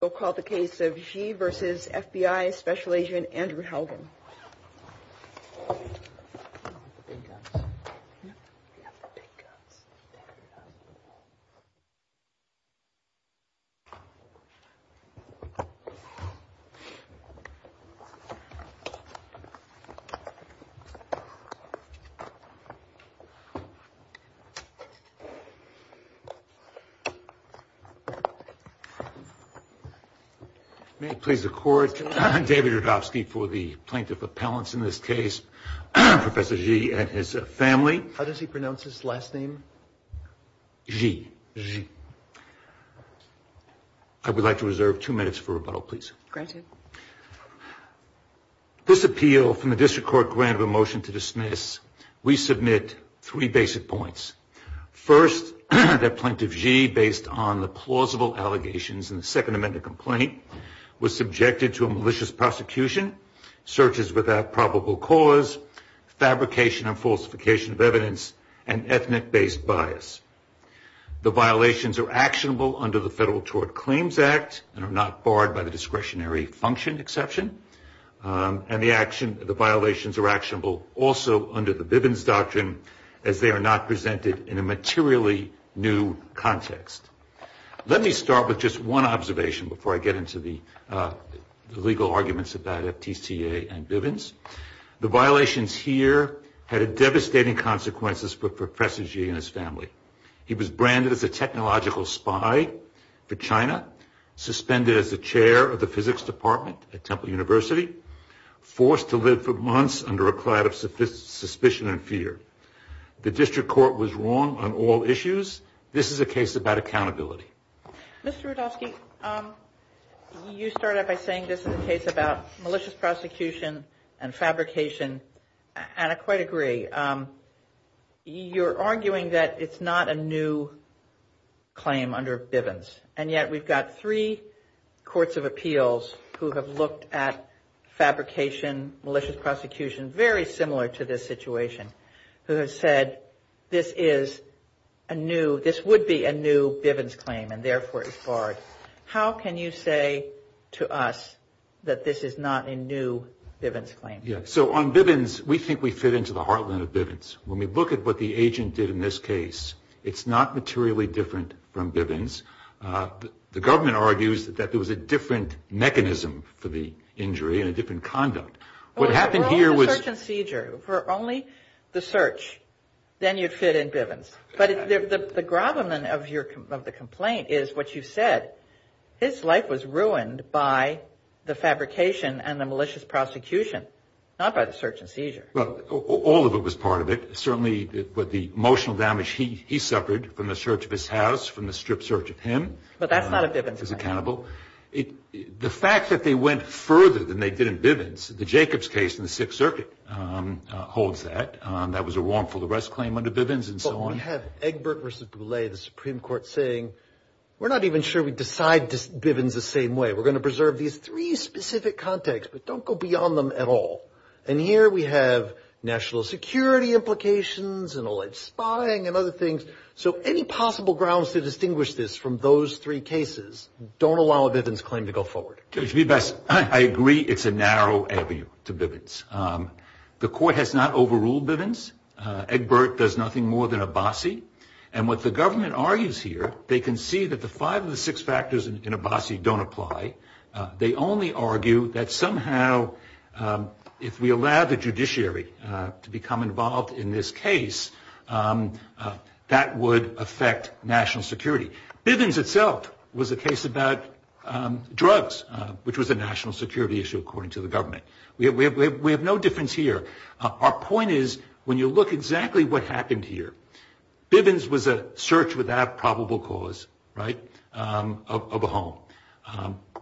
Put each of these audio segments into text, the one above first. We'll call the case of Xi v. FBI Special Agent Andrew Haugen. May it please the Court, David Rudofsky for the plaintiff appellants in this case, Professor Xi and his family. How does he pronounce his last name? Xi, Xi. I would like to reserve two minutes for rebuttal, please. Granted. This appeal from the District Court granted a motion to dismiss. We submit three basic points. First, that Plaintiff Xi, based on the plausible allegations in the Second Amendment complaint, was subjected to a malicious prosecution, searches without probable cause, fabrication and falsification of evidence, and ethnic-based bias. The violations are actionable under the Federal Tort Claims Act and are not barred by the discretionary function exception. And the violations are actionable also under the Bivens Doctrine as they are not presented in a materially new context. Let me start with just one observation before I get into the legal arguments about FTCA and Bivens. The violations here had devastating consequences for Professor Xi and his family. Suspended as the chair of the physics department at Temple University. Forced to live for months under a cloud of suspicion and fear. The District Court was wrong on all issues. This is a case about accountability. Mr. Rudofsky, you started by saying this is a case about malicious prosecution and fabrication, and I quite agree. You're arguing that it's not a new claim under Bivens, and yet we've got three courts of appeals who have looked at fabrication, malicious prosecution, very similar to this situation, who have said this is a new, this would be a new Bivens claim and therefore it's barred. How can you say to us that this is not a new Bivens claim? Yeah, so on Bivens, we think we fit into the heartland of Bivens. When we look at what the agent did in this case, it's not materially different from Bivens. The government argues that there was a different mechanism for the injury and a different conduct. What happened here was... Well, for only the search and seizure, for only the search, then you'd fit in Bivens. But the gravamen of the complaint is what you said. His life was ruined by the fabrication and the malicious prosecution, not by the search and seizure. Well, all of it was part of it. Certainly what the emotional damage he suffered from the search of his house, from the strip search of him... But that's not a Bivens claim. ...is accountable. The fact that they went further than they did in Bivens, the Jacobs case in the Sixth Circuit holds that. That was a wrongful arrest claim under Bivens and so on. But we have Egbert v. Boulay, the Supreme Court, saying we're not even sure we decide Bivens the same way. We're going to preserve these three specific contexts, but don't go beyond them at all. And here we have national security implications and all that spying and other things. So any possible grounds to distinguish this from those three cases don't allow a Bivens claim to go forward. To be best, I agree it's a narrow avenue to Bivens. The court has not overruled Bivens. Egbert does nothing more than Abassi. And what the government argues here, they can see that the five of the six factors in Abassi don't apply. They only argue that somehow if we allow the judiciary to become involved in this case, that would affect national security. Bivens itself was a case about drugs, which was a national security issue, according to the government. We have no difference here. Our point is, when you look at exactly what happened here, Bivens was a search without probable cause of a home.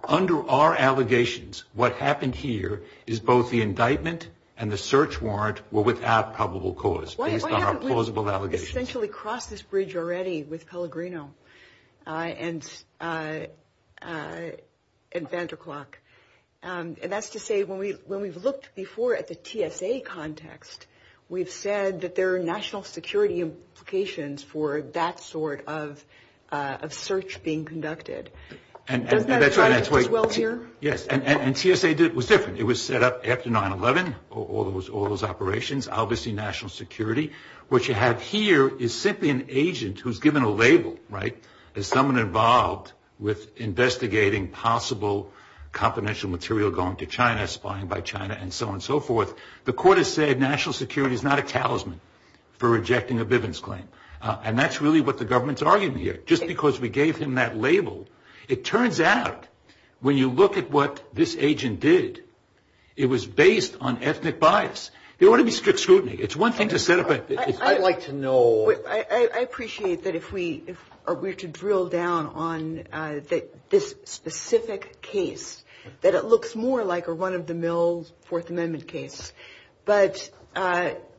Under our allegations, what happened here is both the indictment and the search warrant were without probable cause, based on our plausible allegations. Why haven't we essentially crossed this bridge already with Pellegrino and Van der Klook? And that's to say, when we've looked before at the TSA context, we've said that there are national security implications for that sort of search being conducted. Does that apply as well here? Yes. And TSA was different. It was set up after 9-11, all those operations, obviously national security. What you have here is simply an agent who's given a label, right, as someone involved with investigating possible confidential material going to China, spying by China, and so on and so forth. The court has said national security is not a talisman for rejecting a Bivens claim. And that's really what the government's arguing here. Just because we gave him that label, it turns out when you look at what this agent did, it was based on ethnic bias. There ought to be strict scrutiny. It's one thing to set up a – I'd like to know – I appreciate that if we are to drill down on this specific case, that it looks more like a run-of-the-mill Fourth Amendment case. But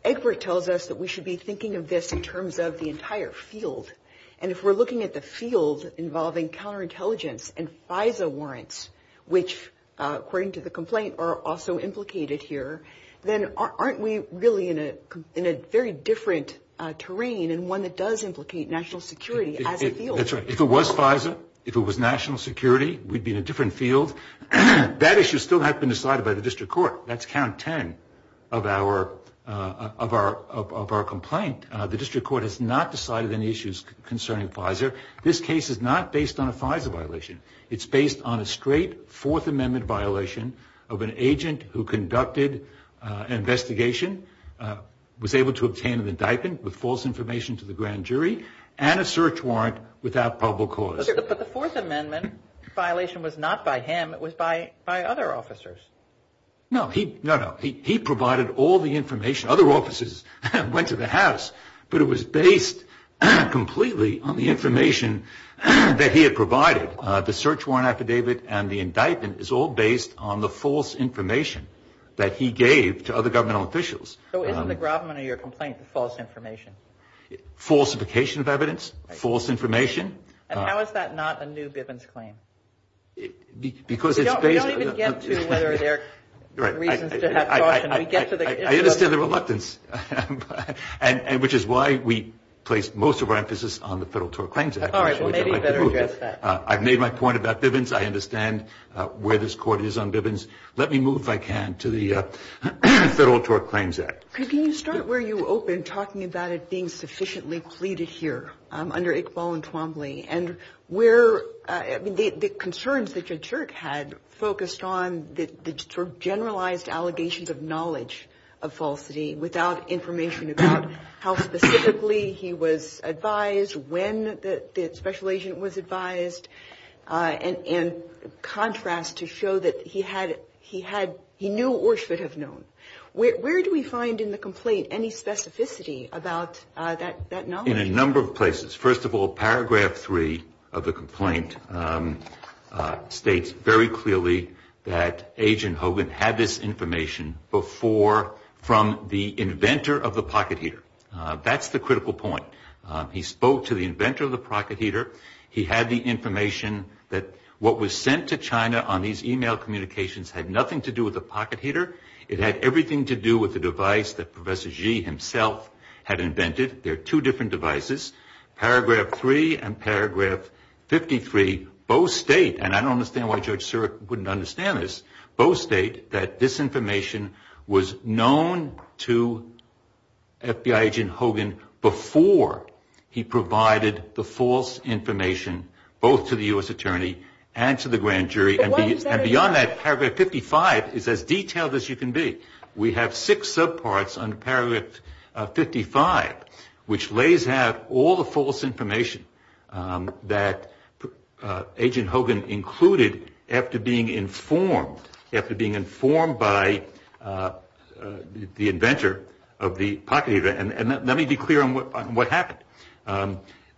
Egbert tells us that we should be thinking of this in terms of the entire field. And if we're looking at the field involving counterintelligence and FISA warrants, which according to the complaint are also implicated here, then aren't we really in a very different terrain and one that does implicate national security as a field? That's right. If it was FISA, if it was national security, we'd be in a different field. That issue still hasn't been decided by the district court. That's count 10 of our complaint. The district court has not decided any issues concerning FISA. This case is not based on a FISA violation. It's based on a straight Fourth Amendment violation of an agent who conducted an investigation, was able to obtain an indictment with false information to the grand jury, and a search warrant without probable cause. But the Fourth Amendment violation was not by him. It was by other officers. No. No, no. He provided all the information. Other officers went to the house, but it was based completely on the information that he had provided. The search warrant affidavit and the indictment is all based on the false information that he gave to other governmental officials. So isn't the Grobman of your complaint the false information? Falsification of evidence, false information. And how is that not a new Bivens claim? We don't even get to whether there are reasons to have caution. I understand the reluctance, which is why we place most of our emphasis on the Federal Tort Claims Act. All right. Well, maybe we better address that. I've made my point about Bivens. I understand where this court is on Bivens. Let me move, if I can, to the Federal Tort Claims Act. Can you start where you opened, talking about it being sufficiently pleaded here under Iqbal and Twombly? And the concerns that Jed Shirk had focused on the sort of generalized allegations of knowledge of falsity without information about how specifically he was advised, when the special agent was advised, and contrast to show that he knew or should have known. Where do we find in the complaint any specificity about that knowledge? In a number of places. First of all, Paragraph 3 of the complaint states very clearly that Agent Hogan had this information before from the inventor of the pocket heater. That's the critical point. He spoke to the inventor of the pocket heater. He had the information that what was sent to China on these e-mail communications had nothing to do with the pocket heater. It had everything to do with the device that Professor Xi himself had invented. They're two different devices. Paragraph 3 and Paragraph 53 both state, and I don't understand why Judge Shirk wouldn't understand this, both state that this information was known to FBI Agent Hogan before he provided the false information, both to the U.S. Attorney and to the grand jury. And beyond that, Paragraph 55 is as detailed as you can be. We have six subparts under Paragraph 55, which lays out all the false information that Agent Hogan included after being informed, after being informed by the inventor of the pocket heater. And let me be clear on what happened.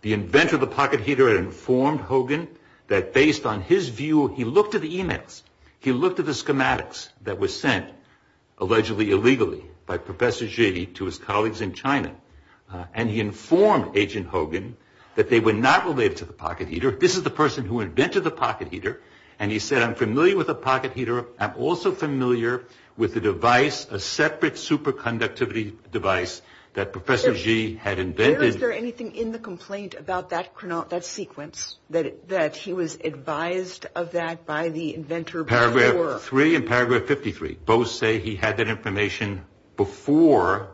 The inventor of the pocket heater had informed Hogan that based on his view, he looked at the e-mails, he looked at the schematics that were sent allegedly illegally by Professor Xi to his colleagues in China, and he informed Agent Hogan that they were not related to the pocket heater. This is the person who invented the pocket heater. And he said, I'm familiar with the pocket heater. I'm also familiar with the device, a separate superconductivity device that Professor Xi had invented. Is there anything in the complaint about that sequence, that he was advised of that by the inventor before? Paragraph 3 and Paragraph 53 both say he had that information before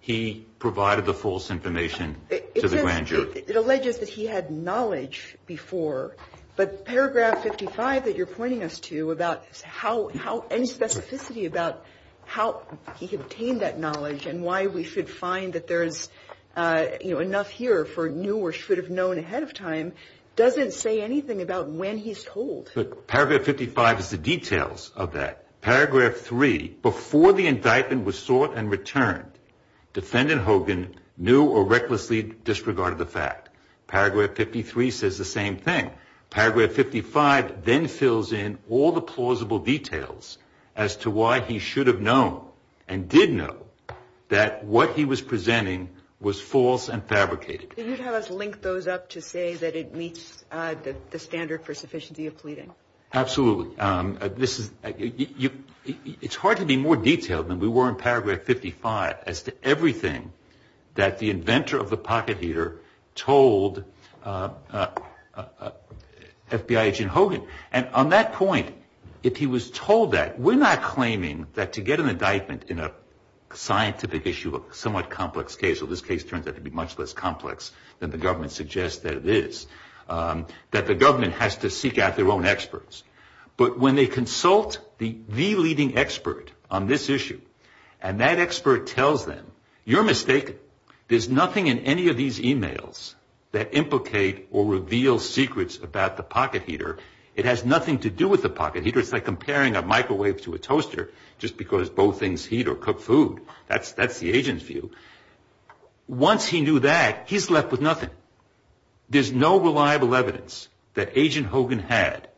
he provided the false information to the grand jury. It alleges that he had knowledge before. But Paragraph 55 that you're pointing us to about any specificity about how he obtained that knowledge and why we should find that there is enough here for knew or should have known ahead of time, doesn't say anything about when he's told. Paragraph 55 is the details of that. Paragraph 3, before the indictment was sought and returned, defendant Hogan knew or recklessly disregarded the fact. Paragraph 53 says the same thing. Paragraph 55 then fills in all the plausible details as to why he should have known and did know that what he was presenting was false and fabricated. Can you have us link those up to say that it meets the standard for sufficiency of pleading? Absolutely. It's hard to be more detailed than we were in Paragraph 55 as to everything that the inventor of the pocket heater told FBI agent Hogan. And on that point, if he was told that, we're not claiming that to get an indictment in a scientific issue, a somewhat complex case, or this case turns out to be much less complex than the government suggests that it is, that the government has to seek out their own experts. But when they consult the leading expert on this issue, and that expert tells them, you're mistaken. There's nothing in any of these emails that implicate or reveal secrets about the pocket heater. It has nothing to do with the pocket heater. It's like comparing a microwave to a toaster just because both things heat or cook food. That's the agent's view. Once he knew that, he's left with nothing. There's no reliable evidence that Agent Hogan had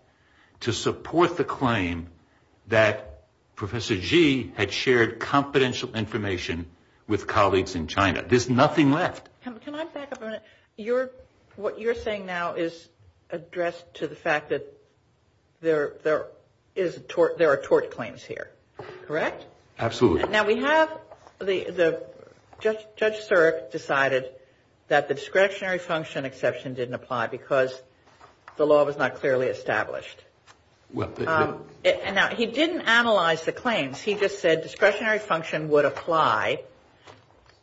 to support the claim that Professor Xi had shared confidential information with colleagues in China. There's nothing left. Can I back up a minute? What you're saying now is addressed to the fact that there are tort claims here, correct? Absolutely. Now, we have the judge decided that the discretionary function exception didn't apply because the law was not clearly established. Now, he didn't analyze the claims. He just said discretionary function would apply.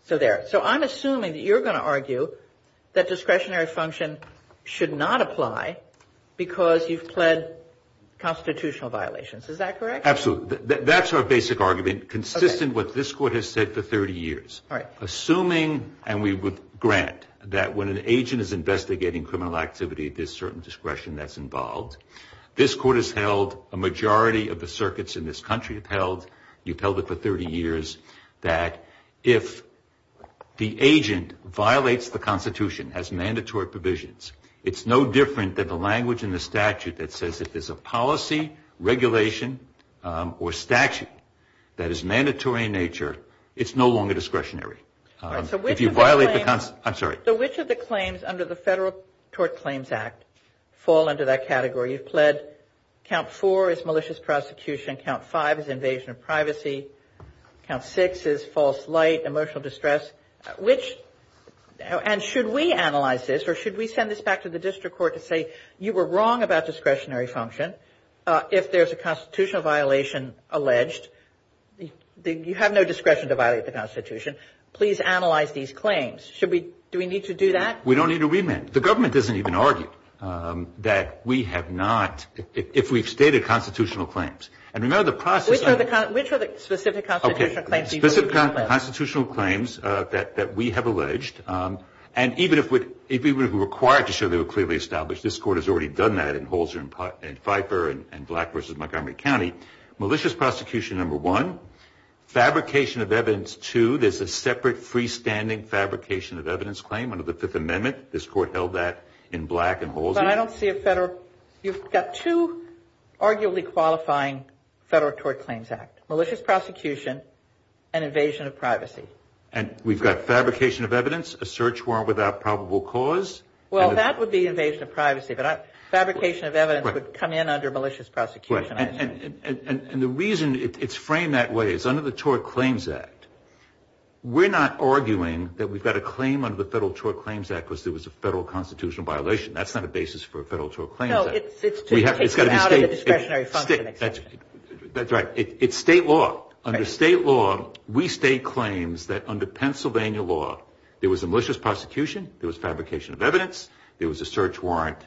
So there. So I'm assuming that you're going to argue that discretionary function should not apply because you've pled constitutional violations. Is that correct? Absolutely. So that's our basic argument, consistent with what this court has said for 30 years. Assuming, and we would grant, that when an agent is investigating criminal activity, there's certain discretion that's involved. This court has held, a majority of the circuits in this country have held, you've held it for 30 years, that if the agent violates the Constitution, has mandatory provisions, it's no different than the language in the statute that says if there's a policy, regulation, or statute that is mandatory in nature, it's no longer discretionary. If you violate the Constitution. I'm sorry. So which of the claims under the Federal Tort Claims Act fall under that category? You've pled count four as malicious prosecution, count five as invasion of privacy, count six as false light, emotional distress. Which, and should we analyze this, or should we send this back to the district court to say, you were wrong about discretionary function. If there's a constitutional violation alleged, you have no discretion to violate the Constitution. Please analyze these claims. Should we, do we need to do that? We don't need to remand. The government doesn't even argue that we have not, if we've stated constitutional claims. And remember the process. Which are the specific constitutional claims? Specific constitutional claims that we have alleged. And even if we were required to show they were clearly established, this Court has already done that in Holzer and Pfeiffer and Black v. Montgomery County. Malicious prosecution, number one. Fabrication of evidence, two. There's a separate freestanding fabrication of evidence claim under the Fifth Amendment. This Court held that in Black and Holzer. But I don't see a Federal, you've got two arguably qualifying Federal Tort Claims Act. Malicious prosecution and invasion of privacy. And we've got fabrication of evidence, a search warrant without probable cause. Well, that would be invasion of privacy. But fabrication of evidence would come in under malicious prosecution, I assume. And the reason it's framed that way is under the Tort Claims Act, we're not arguing that we've got a claim under the Federal Tort Claims Act because there was a Federal constitutional violation. That's not a basis for a Federal Tort Claims Act. No, it's to take you out of the discretionary function. That's right. It's state law. Under state law, we state claims that under Pennsylvania law, there was a malicious prosecution, there was fabrication of evidence, there was a search warrant,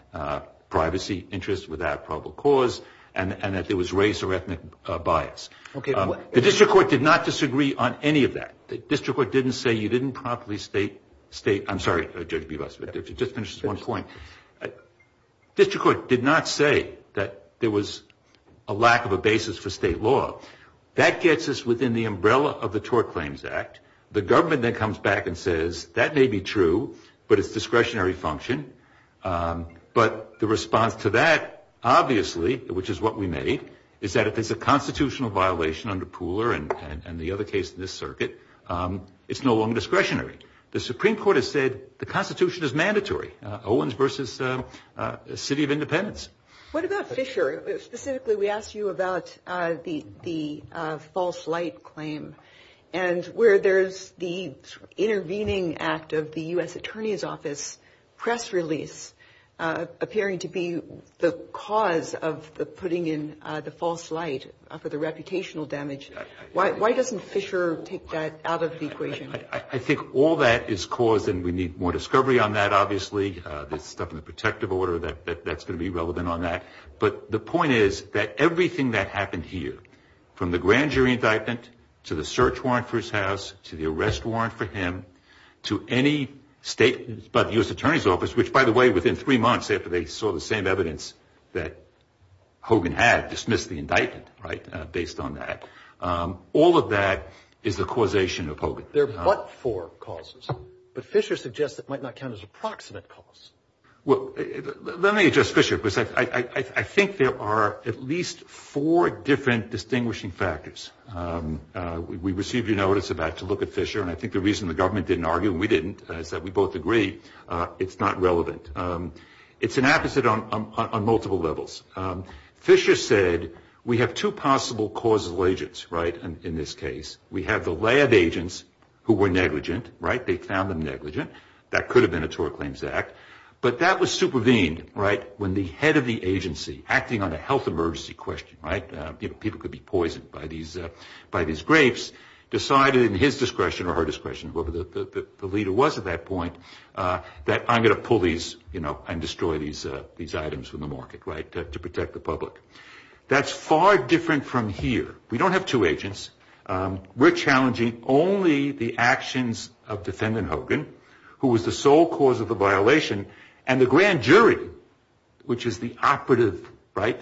privacy interest without probable cause, and that there was race or ethnic bias. The District Court did not disagree on any of that. The District Court didn't say you didn't properly state. I'm sorry, Judge Bebas, but just finish this one point. The District Court did not say that there was a lack of a basis for state law. That gets us within the umbrella of the Tort Claims Act. The government then comes back and says, that may be true, but it's discretionary function. But the response to that, obviously, which is what we made, is that if it's a constitutional violation under Pooler and the other case in this circuit, it's no longer discretionary. The Supreme Court has said the Constitution is mandatory. Owens v. City of Independence. What about Fisher? Specifically, we asked you about the false light claim and where there's the intervening act of the U.S. Attorney's Office press release appearing to be the cause of putting in the false light for the reputational damage. Why doesn't Fisher take that out of the equation? I think all that is caused, and we need more discovery on that, obviously. There's stuff in the protective order that's going to be relevant on that. But the point is that everything that happened here, from the grand jury indictment to the search warrant for his house to the arrest warrant for him to any statement by the U.S. Attorney's Office, which, by the way, within three months after they saw the same evidence that Hogan had, dismissed the indictment based on that, all of that is the causation of Hogan. There are but four causes. But Fisher suggests it might not count as an approximate cause. Well, let me address Fisher because I think there are at least four different distinguishing factors. We received a notice about to look at Fisher, and I think the reason the government didn't argue and we didn't is that we both agree it's not relevant. It's an opposite on multiple levels. Fisher said we have two possible causal agents, right, in this case. We have the lab agents who were negligent, right? They found them negligent. That could have been a tort claims act. But that was supervened, right, when the head of the agency, acting on a health emergency question, right, you know, people could be poisoned by these grapes, decided in his discretion or her discretion, whoever the leader was at that point, that I'm going to pull these, you know, and destroy these items from the market, right, to protect the public. That's far different from here. We don't have two agents. We're challenging only the actions of defendant Hogan, who was the sole cause of the violation, and the grand jury, which is the operative, right,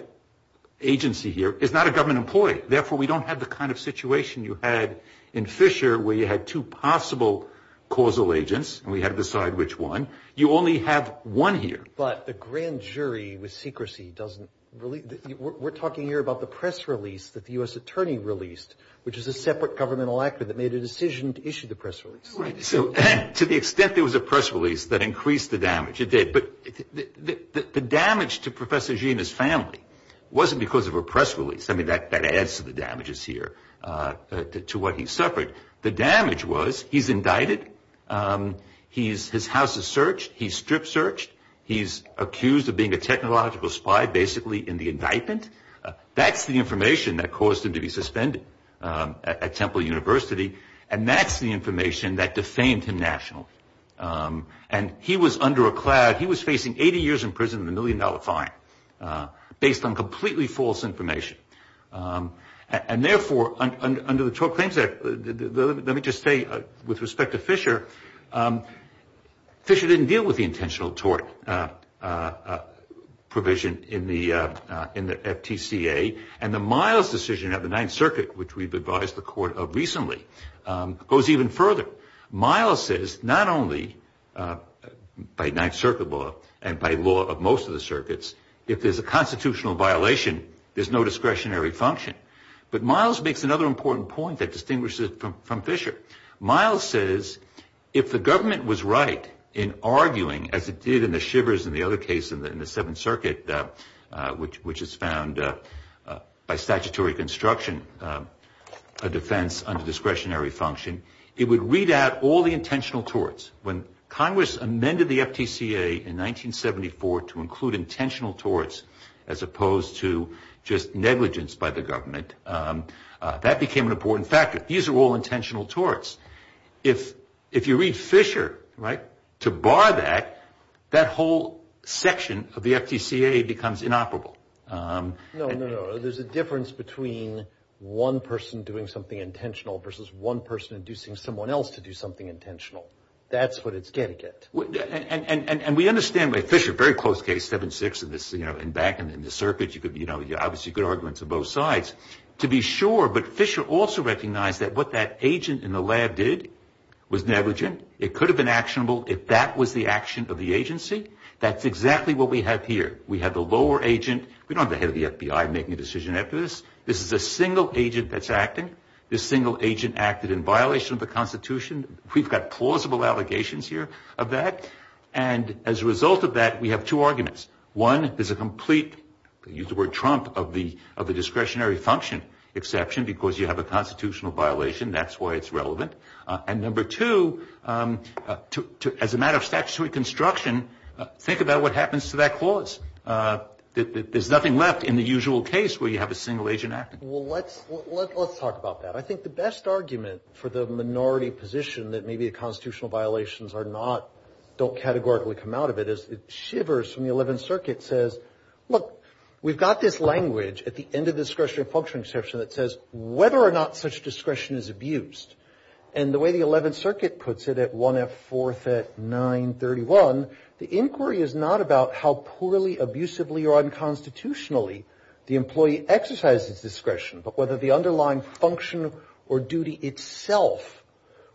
agency here, is not a government employee. Therefore, we don't have the kind of situation you had in Fisher where you had two possible causal agents and we had to decide which one. You only have one here. But the grand jury with secrecy doesn't really – We're talking here about the press release that the U.S. attorney released, which is a separate governmental actor that made a decision to issue the press release. Right. So to the extent there was a press release that increased the damage, it did. But the damage to Professor Gina's family wasn't because of a press release. I mean, that adds to the damages here, to what he suffered. The damage was he's indicted. His house is searched. He's strip searched. He's accused of being a technological spy, basically, in the indictment. That's the information that caused him to be suspended at Temple University, and that's the information that defamed him nationally. And he was under a cloud. He was facing 80 years in prison and a million-dollar fine based on completely false information. And, therefore, under the Tort Claims Act, let me just say, with respect to Fisher, Fisher didn't deal with the intentional tort provision in the FTCA, and the Miles decision of the Ninth Circuit, which we've advised the court of recently, goes even further. Miles says not only by Ninth Circuit law and by law of most of the circuits, if there's a constitutional violation, there's no discretionary function. But Miles makes another important point that distinguishes it from Fisher. Miles says if the government was right in arguing, as it did in the Shivers and the other case in the Seventh Circuit, which is found by statutory construction, a defense under discretionary function, it would read out all the intentional torts. When Congress amended the FTCA in 1974 to include intentional torts, as opposed to just negligence by the government, that became an important factor. These are all intentional torts. If you read Fisher, right, to bar that, that whole section of the FTCA becomes inoperable. No, no, no. There's a difference between one person doing something intentional versus one person inducing someone else to do something intentional. That's what it's getting at. And we understand by Fisher, a very close case, 7-6 in this, you know, and back in the circuit, you know, obviously good arguments on both sides. To be sure, but Fisher also recognized that what that agent in the lab did was negligent. It could have been actionable if that was the action of the agency. That's exactly what we have here. We have the lower agent. We don't have the head of the FBI making a decision after this. This is a single agent that's acting. This single agent acted in violation of the Constitution. We've got plausible allegations here of that. And as a result of that, we have two arguments. One is a complete, use the word trump, of the discretionary function exception because you have a constitutional violation. That's why it's relevant. And number two, as a matter of statutory construction, think about what happens to that clause. There's nothing left in the usual case where you have a single agent acting. Well, let's talk about that. I think the best argument for the minority position that maybe the constitutional violations are not, don't categorically come out of it is it shivers from the Eleventh Circuit, says, look, we've got this language at the end of discretionary function exception that says whether or not such discretion is abused. And the way the Eleventh Circuit puts it at 1F 4th at 931, the inquiry is not about how poorly, abusively, or unconstitutionally the employee exercised its discretion, but whether the underlying function or duty itself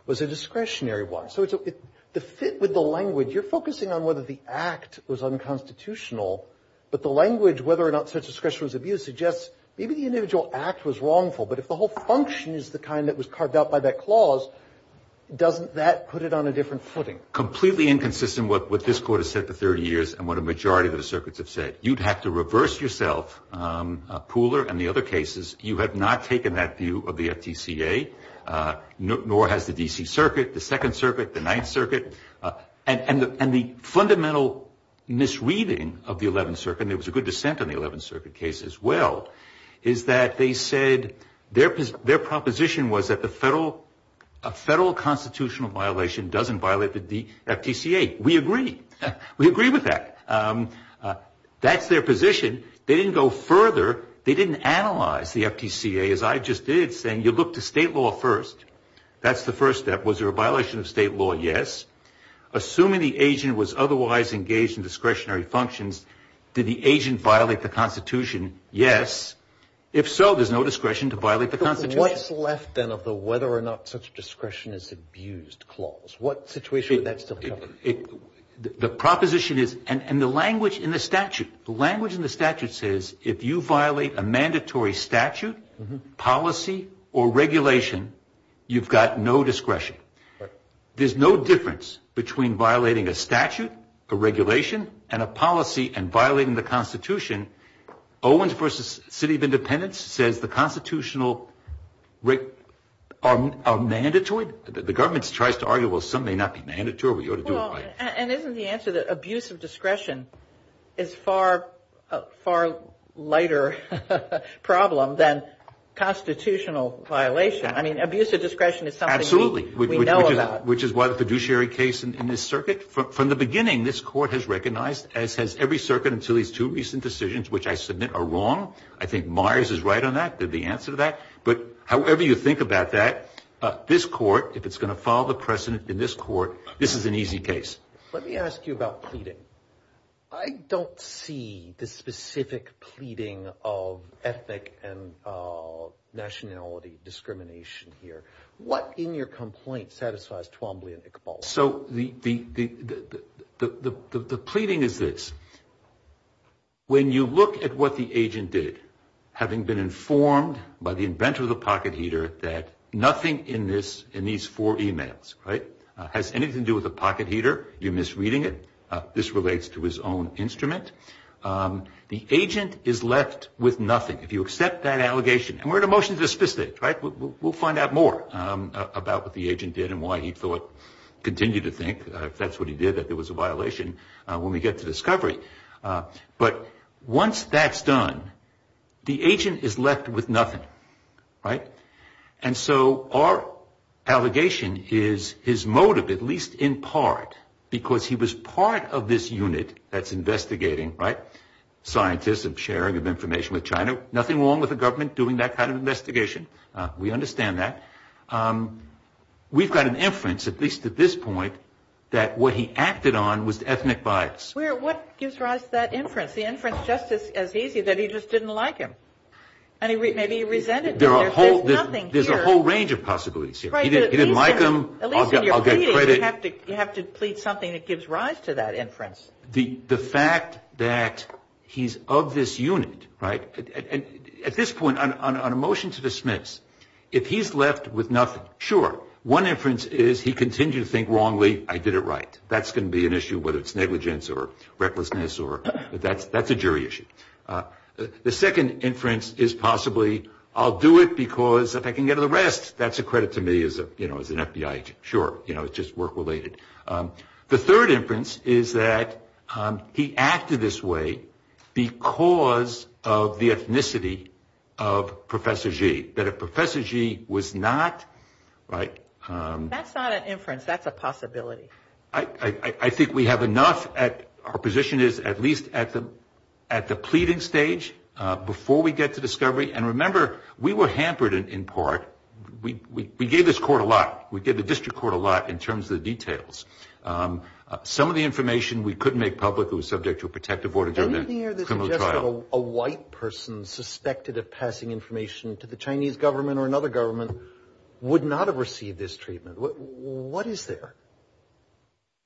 was a discretionary one. So the fit with the language, you're focusing on whether the act was unconstitutional, but the language whether or not such discretion was abused suggests maybe the individual act was wrongful. But if the whole function is the kind that was carved out by that clause, doesn't that put it on a different footing? Completely inconsistent with what this Court has said for 30 years and what a majority of the circuits have said. You'd have to reverse yourself, Pooler and the other cases. You have not taken that view of the FTCA, nor has the D.C. Circuit. The Second Circuit, the Ninth Circuit, and the fundamental misreading of the Eleventh Circuit, and there was a good dissent in the Eleventh Circuit case as well, is that they said their proposition was that a federal constitutional violation doesn't violate the FTCA. We agree. We agree with that. That's their position. They didn't go further. They didn't analyze the FTCA, as I just did, saying you look to state law first. That's the first step. Was there a violation of state law? Yes. Assuming the agent was otherwise engaged in discretionary functions, did the agent violate the Constitution? Yes. If so, there's no discretion to violate the Constitution. What's left then of the whether or not such discretion is abused clause? What situation would that still cover? The proposition is, and the language in the statute, the language in the statute says, if you violate a mandatory statute, policy, or regulation, you've got no discretion. There's no difference between violating a statute, a regulation, and a policy and violating the Constitution. Owens v. City of Independence says the constitutional are mandatory. The government tries to argue, well, some may not be mandatory, but you ought to do it right. And isn't the answer that abuse of discretion is a far lighter problem than constitutional violation? I mean, abuse of discretion is something we know about. Absolutely, which is why the fiduciary case in this circuit, from the beginning, this court has recognized, as has every circuit until these two recent decisions, which I submit are wrong. I think Myers is right on that, the answer to that. But however you think about that, this court, if it's going to follow the precedent in this court, this is an easy case. Let me ask you about pleading. I don't see the specific pleading of ethnic and nationality discrimination here. What in your complaint satisfies Twombly and Iqbal? So the pleading is this. When you look at what the agent did, having been informed by the inventor of the pocket heater that nothing in these four e-mails has anything to do with a pocket heater, you're misreading it, this relates to his own instrument, the agent is left with nothing. If you accept that allegation, and we're in a motion to dismiss it, right? We'll find out more about what the agent did and why he thought, continue to think, if that's what he did, that there was a violation when we get to discovery. But once that's done, the agent is left with nothing, right? And so our allegation is his motive, at least in part, because he was part of this unit that's investigating, right, of sharing of information with China, nothing wrong with the government doing that kind of investigation, we understand that. We've got an inference, at least at this point, that what he acted on was ethnic bias. What gives rise to that inference? The inference is just as easy, that he just didn't like him. Maybe he resented him. There's a whole range of possibilities here. He didn't like him, I'll get credit. You have to plead something that gives rise to that inference. The fact that he's of this unit, right, at this point, on a motion to dismiss, if he's left with nothing, sure. One inference is he continued to think wrongly, I did it right. That's going to be an issue, whether it's negligence or recklessness, or that's a jury issue. The second inference is possibly, I'll do it because if I can get an arrest, that's a credit to me as an FBI agent. Sure, it's just work-related. The third inference is that he acted this way because of the ethnicity of Professor Gee. That if Professor Gee was not, right. That's not an inference, that's a possibility. I think we have enough, our position is at least at the pleading stage, before we get to discovery. And remember, we were hampered in part. We gave this court a lot. We gave the district court a lot in terms of the details. Some of the information we couldn't make public, it was subject to a protective order during the criminal trial. Anything here that suggests that a white person suspected of passing information to the Chinese government or another government would not have received this treatment? What is there?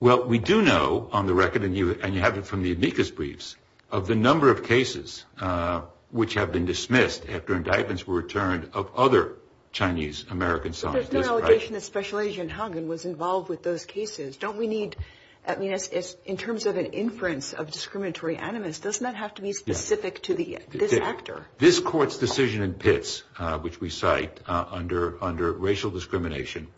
Well, we do know on the record, and you have it from the amicus briefs, of the number of cases which have been dismissed after indictments were returned of other Chinese American sons. But there's no allegation that Special Agent Hogan was involved with those cases. Don't we need, I mean, in terms of an inference of discriminatory animus, doesn't that have to be specific to this actor? This court's decision in Pitts, which we cite under racial discrimination,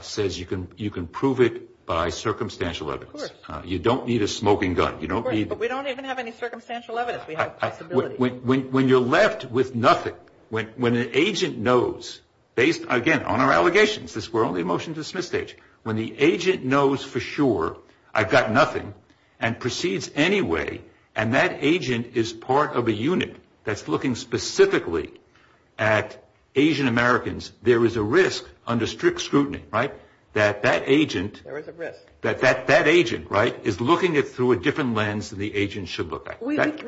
says you can prove it by circumstantial evidence. Of course. You don't need a smoking gun. Of course, but we don't even have any circumstantial evidence. We have a possibility. When you're left with nothing, when an agent knows, based, again, on our allegations, this were only a motion to dismiss stage. When the agent knows for sure, I've got nothing, and proceeds anyway, and that agent is part of a unit that's looking specifically at Asian Americans, there is a risk under strict scrutiny, right, that that agent, There is a risk. right, is looking at it through a different lens than the agent should look at.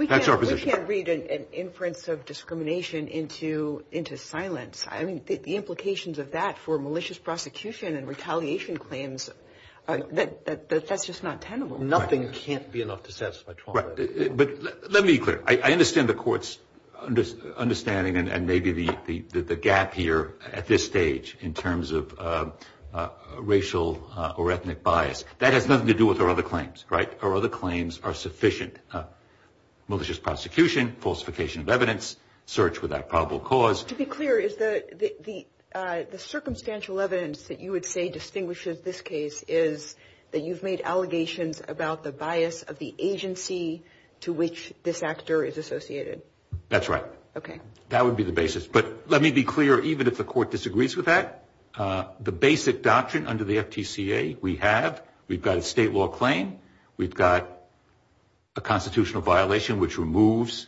That's our position. We can't read an inference of discrimination into silence. I mean, the implications of that for malicious prosecution and retaliation claims, that's just not tenable. Nothing can't be enough to satisfy Trump. Right. But let me be clear. I understand the court's understanding and maybe the gap here at this stage in terms of racial or ethnic bias. That has nothing to do with our other claims, right? Our other claims are sufficient. Malicious prosecution, falsification of evidence, search without probable cause. To be clear, is the circumstantial evidence that you would say distinguishes this case is that you've made allegations about the bias of the agency to which this actor is associated? That's right. Okay. That would be the basis. But let me be clear. Even if the court disagrees with that, the basic doctrine under the FTCA, we have. We've got a state law claim. We've got a constitutional violation which removes,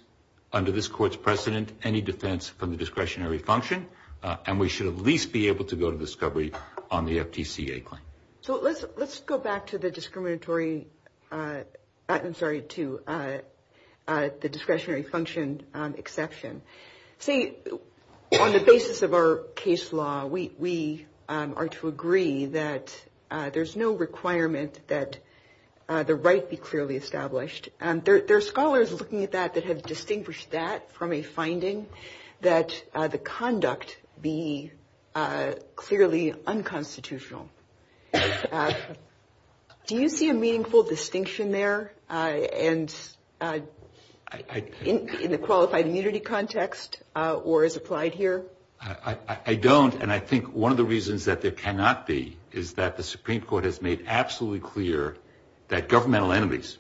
under this court's precedent, any defense from the discretionary function. And we should at least be able to go to discovery on the FTCA claim. So let's go back to the discriminatory, I'm sorry, to the discretionary function exception. See, on the basis of our case law, we are to agree that there's no requirement that the right be clearly established. There are scholars looking at that that have distinguished that from a finding that the conduct be clearly unconstitutional. Do you see a meaningful distinction there in the qualified immunity context or as applied here? I don't. And I think one of the reasons that there cannot be is that the Supreme Court has made absolutely clear that governmental entities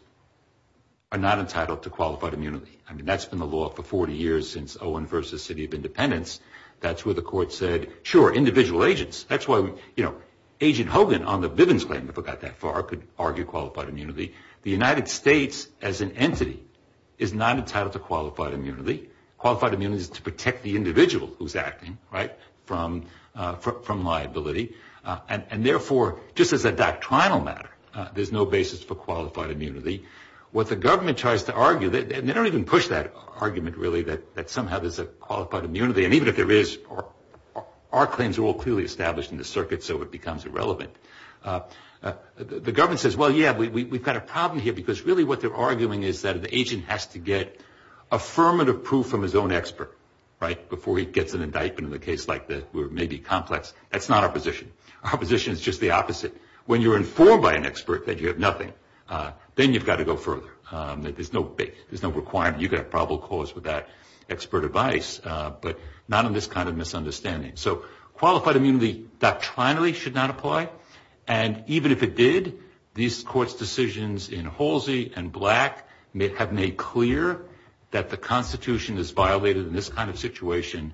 are not entitled to qualified immunity. I mean, that's been the law for 40 years since Owen versus City of Independence. That's where the court said, sure, individual agents. That's why Agent Hogan on the Bivens claim, if it got that far, could argue qualified immunity. The United States, as an entity, is not entitled to qualified immunity. Qualified immunity is to protect the individual who's acting, right, from liability. And, therefore, just as a doctrinal matter, there's no basis for qualified immunity. What the government tries to argue, and they don't even push that argument, really, that somehow there's a qualified immunity. And even if there is, our claims are all clearly established in the circuit, so it becomes irrelevant. The government says, well, yeah, we've got a problem here because, really, what they're arguing is that an agent has to get affirmative proof from his own expert, right, before he gets an indictment in a case like this where it may be complex. That's not opposition. Opposition is just the opposite. When you're informed by an expert that you have nothing, then you've got to go further. There's no requirement. You could have probable cause with that expert advice, but not in this kind of misunderstanding. So qualified immunity doctrinally should not apply. And even if it did, these courts' decisions in Halsey and Black have made clear that the Constitution is violated in this kind of situation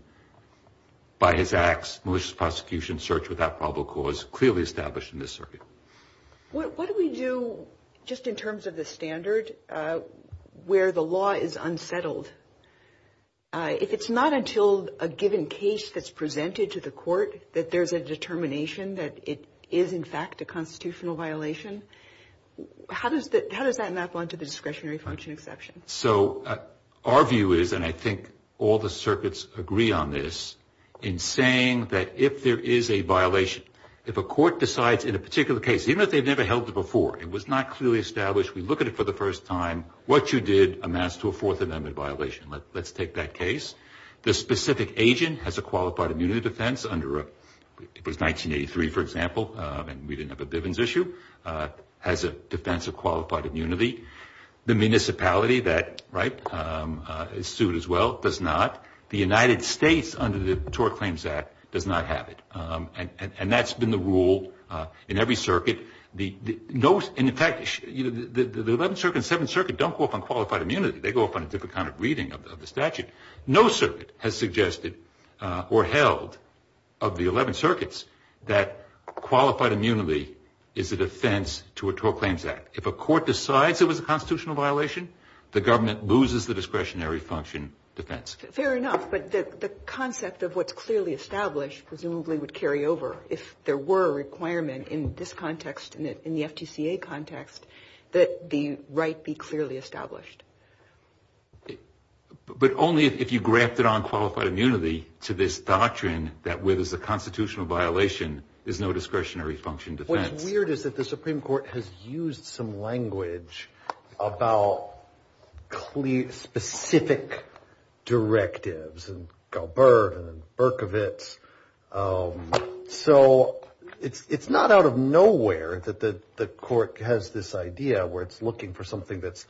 by his acts, malicious prosecution, search without probable cause, clearly established in this circuit. What do we do just in terms of the standard where the law is unsettled? If it's not until a given case that's presented to the court that there's a determination that it is, in fact, a constitutional violation, how does that map onto the discretionary function exception? So our view is, and I think all the circuits agree on this, in saying that if there is a violation, if a court decides in a particular case, even if they've never held it before, it was not clearly established, we look at it for the first time, what you did amounts to a Fourth Amendment violation. Let's take that case. The specific agent has a qualified immunity defense under, it was 1983, for example, and we didn't have a Bivens issue, has a defense of qualified immunity. The municipality that is sued as well does not. The United States under the Tort Claims Act does not have it. And that's been the rule in every circuit. In fact, the 11th Circuit and 7th Circuit don't go up on qualified immunity. They go up on a different kind of reading of the statute. No circuit has suggested or held of the 11 circuits that qualified immunity is a defense to a Tort Claims Act. If a court decides it was a constitutional violation, the government loses the discretionary function defense. Fair enough, but the concept of what's clearly established presumably would carry over if there were a requirement in this context, in the FTCA context, that the right be clearly established. But only if you grafted on qualified immunity to this doctrine that where there's a constitutional violation, there's no discretionary function defense. What's weird is that the Supreme Court has used some language about specific directives, and Gilbert and Berkovitz, so it's not out of nowhere that the court has this idea where it's looking for something that's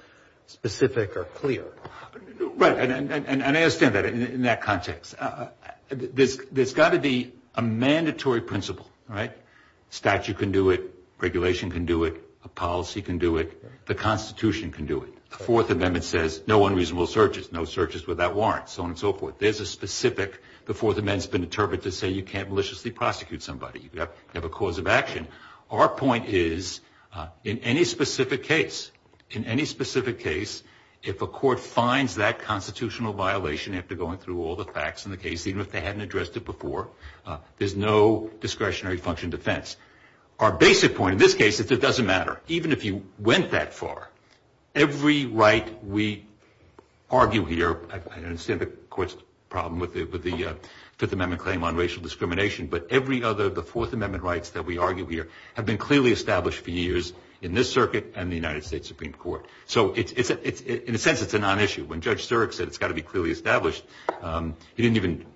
specific or clear. Right, and I understand that in that context. There's got to be a mandatory principle, right? A statute can do it, regulation can do it, a policy can do it, the Constitution can do it. The Fourth Amendment says no unreasonable searches, no searches without warrants, so on and so forth. There's a specific, the Fourth Amendment's been interpreted to say you can't maliciously prosecute somebody. You have a cause of action. Our point is in any specific case, in any specific case, if a court finds that constitutional violation after going through all the facts in the case, even if they hadn't addressed it before, there's no discretionary function defense. Our basic point in this case is it doesn't matter. Even if you went that far, every right we argue here, I understand the court's problem with the Fifth Amendment claim on racial discrimination, but every other of the Fourth Amendment rights that we argue here have been clearly established for years in this circuit and the United States Supreme Court. So in a sense, it's a non-issue. When Judge Surik said it's got to be clearly established, he didn't even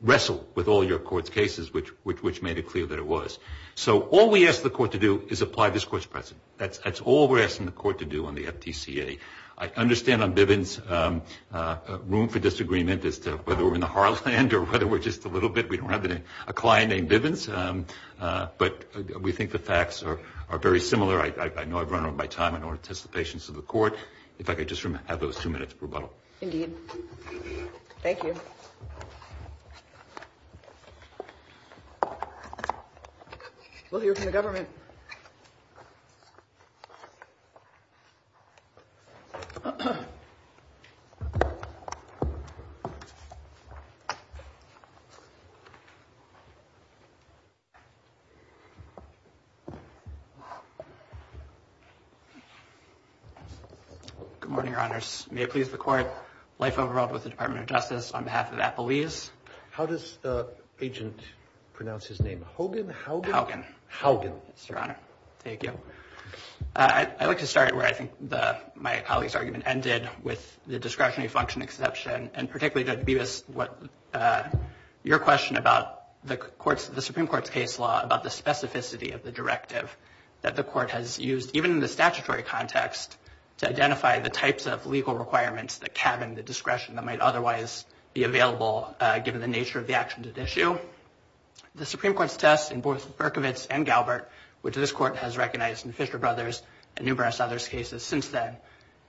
wrestle with all your court's cases, which made it clear that it was. So all we ask the court to do is apply this court's precedent. That's all we're asking the court to do on the FTCA. I understand on Bivens, room for disagreement as to whether we're in the heartland or whether we're just a little bit, we don't have a client named Bivens, but we think the facts are very similar. I know I've run out of my time. I don't want to test the patience of the court. If I could just have those two minutes rebuttal. Indeed. Thank you. We'll hear from the government. Good morning, Your Honors. May it please the court, life of the world with the Department of Justice, on behalf of Applebee's. How does the agent pronounce his name? Hogan? Hogan. Hogan. Yes, Your Honor. Thank you. I'd like to start where I think my colleague's argument ended, with the discretionary function exception, and particularly Judge Bivens, your question about the Supreme Court's case law, about the specificity of the directive that the court has used, even in the statutory context, to identify the types of legal requirements that cabin the discretion that might otherwise be available, given the nature of the actions at issue. The Supreme Court's test in both Berkovitz and Galbert, which this court has recognized in Fisher Brothers and numerous others' cases since then,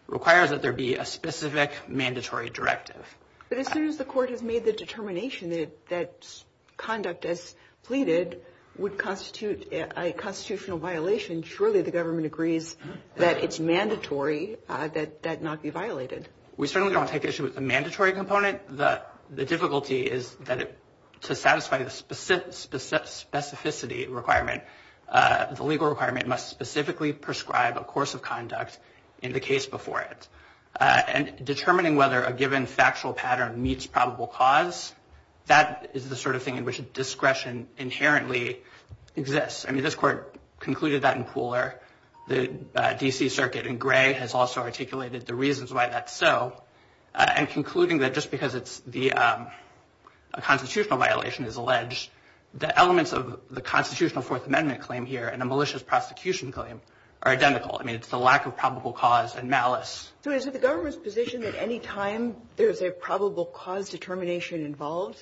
requires that there be a specific mandatory directive. But as soon as the court has made the determination that conduct as pleaded would constitute a constitutional violation, then surely the government agrees that it's mandatory that that not be violated. We certainly don't take issue with the mandatory component. The difficulty is that to satisfy the specificity requirement, the legal requirement must specifically prescribe a course of conduct in the case before it. And determining whether a given factual pattern meets probable cause, that is the sort of thing in which discretion inherently exists. I mean, this court concluded that in Pooler. The D.C. Circuit in Gray has also articulated the reasons why that's so. And concluding that just because a constitutional violation is alleged, the elements of the constitutional Fourth Amendment claim here and a malicious prosecution claim are identical. I mean, it's the lack of probable cause and malice. So is it the government's position that any time there's a probable cause determination involved,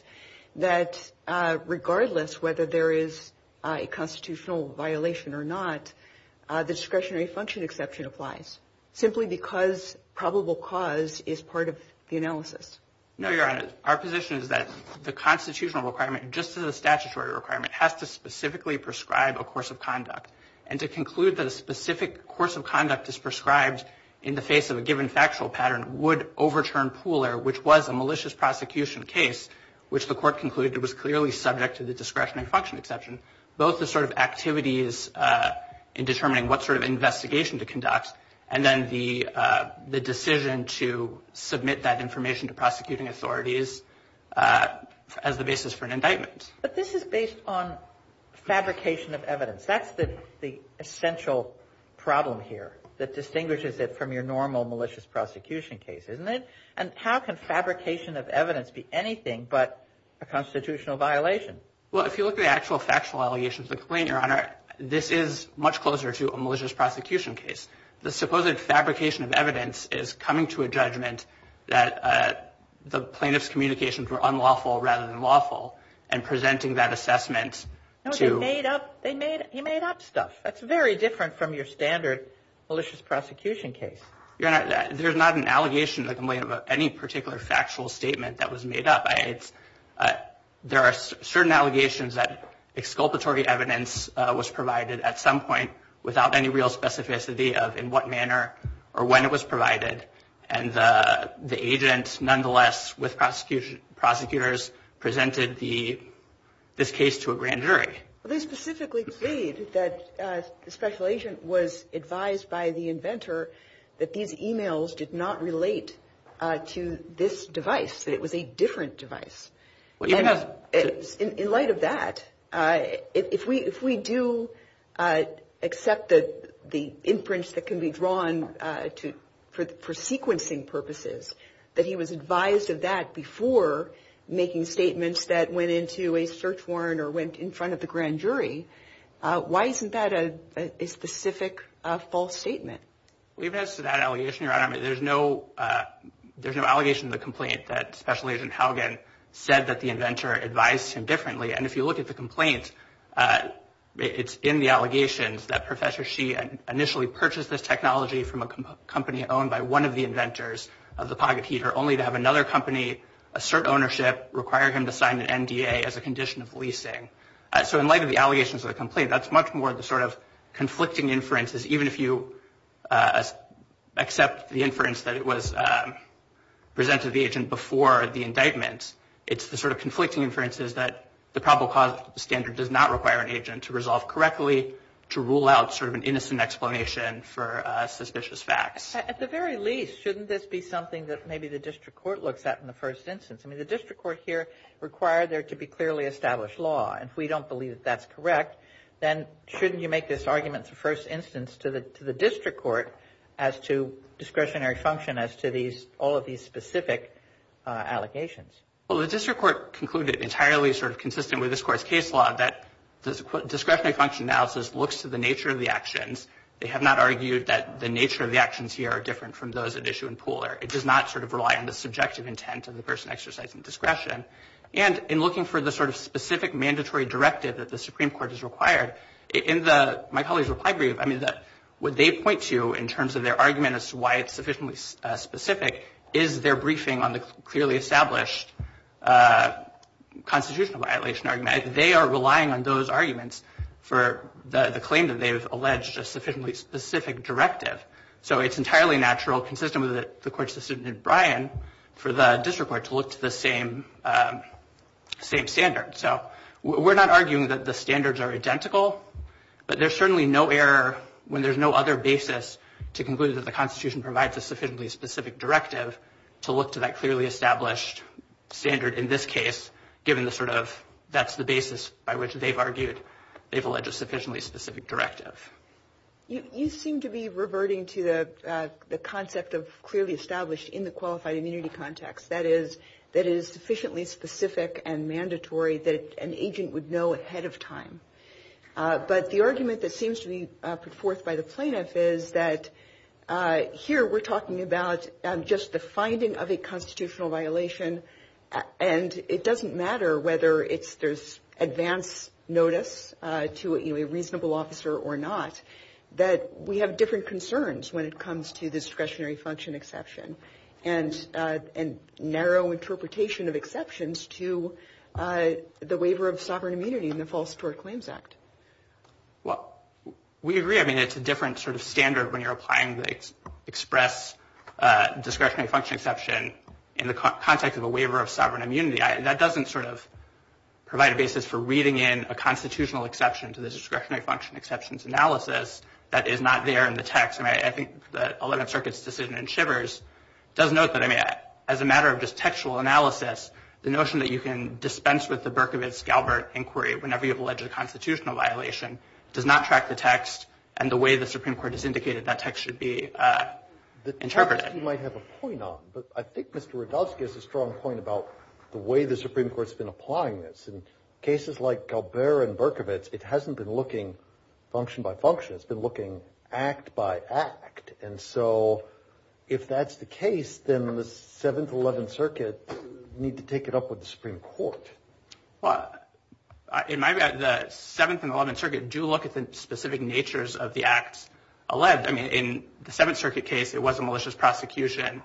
that regardless whether there is a constitutional violation or not, the discretionary function exception applies, simply because probable cause is part of the analysis? No, Your Honor. Our position is that the constitutional requirement, just as a statutory requirement, has to specifically prescribe a course of conduct. And to conclude that a specific course of conduct is prescribed in the face of a given factual pattern would overturn Pooler, which was a malicious prosecution case, which the court concluded was clearly subject to the discretionary function exception. Both the sort of activities in determining what sort of investigation to conduct and then the decision to submit that information to prosecuting authorities as the basis for an indictment. But this is based on fabrication of evidence. That's the essential problem here that distinguishes it from your normal malicious prosecution case, isn't it? And how can fabrication of evidence be anything but a constitutional violation? Well, if you look at the actual factual allegations of the complaint, Your Honor, this is much closer to a malicious prosecution case. The supposed fabrication of evidence is coming to a judgment that the plaintiff's communications were unlawful rather than lawful and presenting that assessment to. He made up stuff. That's very different from your standard malicious prosecution case. Your Honor, there's not an allegation in the complaint about any particular factual statement that was made up. There are certain allegations that exculpatory evidence was provided at some point without any real specificity and the agent, nonetheless, with prosecutors, presented this case to a grand jury. They specifically claimed that the special agent was advised by the inventor that these e-mails did not relate to this device, that it was a different device. In light of that, if we do accept the imprints that can be drawn for sequencing purposes, that he was advised of that before making statements that went into a search warrant or went in front of the grand jury, why isn't that a specific false statement? Well, even as to that allegation, Your Honor, there's no allegation in the complaint that Special Agent Haugen said that the inventor advised him differently. And if you look at the complaint, it's in the allegations that Professor Shi initially purchased this technology from a company owned by one of the inventors of the pocket heater, only to have another company assert ownership, require him to sign an NDA as a condition of leasing. So in light of the allegations of the complaint, that's much more the sort of conflicting inferences, even if you accept the inference that it was presented to the agent before the indictment. It's the sort of conflicting inferences that the probable cause standard does not require an agent to resolve correctly to rule out sort of an innocent explanation for suspicious facts. At the very least, shouldn't this be something that maybe the district court looks at in the first instance? I mean, the district court here required there to be clearly established law. And if we don't believe that that's correct, then shouldn't you make this argument the first instance to the district court as to discretionary function as to all of these specific allegations? Well, the district court concluded entirely sort of consistent with this court's case law that discretionary function analysis looks to the nature of the actions. They have not argued that the nature of the actions here are different from those at issue in Pooler. It does not sort of rely on the subjective intent of the person exercising discretion. And in looking for the sort of specific mandatory directive that the Supreme Court has required, in my colleague's reply brief, I mean, what they point to in terms of their argument as to why it's sufficiently specific is their briefing on the clearly established constitutional violation argument. They are relying on those arguments for the claim that they've alleged a sufficiently specific directive. So it's entirely natural, consistent with the court's decision in Bryan, for the district court to look to the same standard. So we're not arguing that the standards are identical, but there's certainly no error when there's no other basis to conclude that the Constitution provides a sufficiently specific directive to look to that clearly established standard in this case, given the sort of that's the basis by which they've argued they've alleged a sufficiently specific directive. You seem to be reverting to the concept of clearly established in the qualified immunity context. That is, that is sufficiently specific and mandatory that an agent would know ahead of time. But the argument that seems to be put forth by the plaintiff is that here we're talking about just the finding of a constitutional violation. And it doesn't matter whether there's advance notice to a reasonable officer or not, that we have different concerns when it comes to discretionary function exception and narrow interpretation of exceptions to the waiver of sovereign immunity in the False Tort Claims Act. Well, we agree. I mean, it's a different sort of standard when you're applying the express discretionary function exception in the context of a waiver of sovereign immunity. That doesn't sort of provide a basis for reading in a constitutional exception to the discretionary function exceptions analysis that is not there in the text. I mean, I think the Eleventh Circuit's decision in Shivers does note that, I mean, as a matter of just textual analysis, the notion that you can dispense with the Berkowitz-Galbert inquiry whenever you have alleged a constitutional violation does not track the text and the way the Supreme Court has indicated that text should be interpreted. I guess you might have a point on, but I think Mr. Radowsky has a strong point about the way the Supreme Court's been applying this. In cases like Galbert and Berkowitz, it hasn't been looking function by function. It's been looking act by act. And so if that's the case, then the Seventh and Eleventh Circuit need to take it up with the Supreme Court. Well, in my view, the Seventh and Eleventh Circuit do look at the specific natures of the Acts 11. And, I mean, in the Seventh Circuit case, it was a malicious prosecution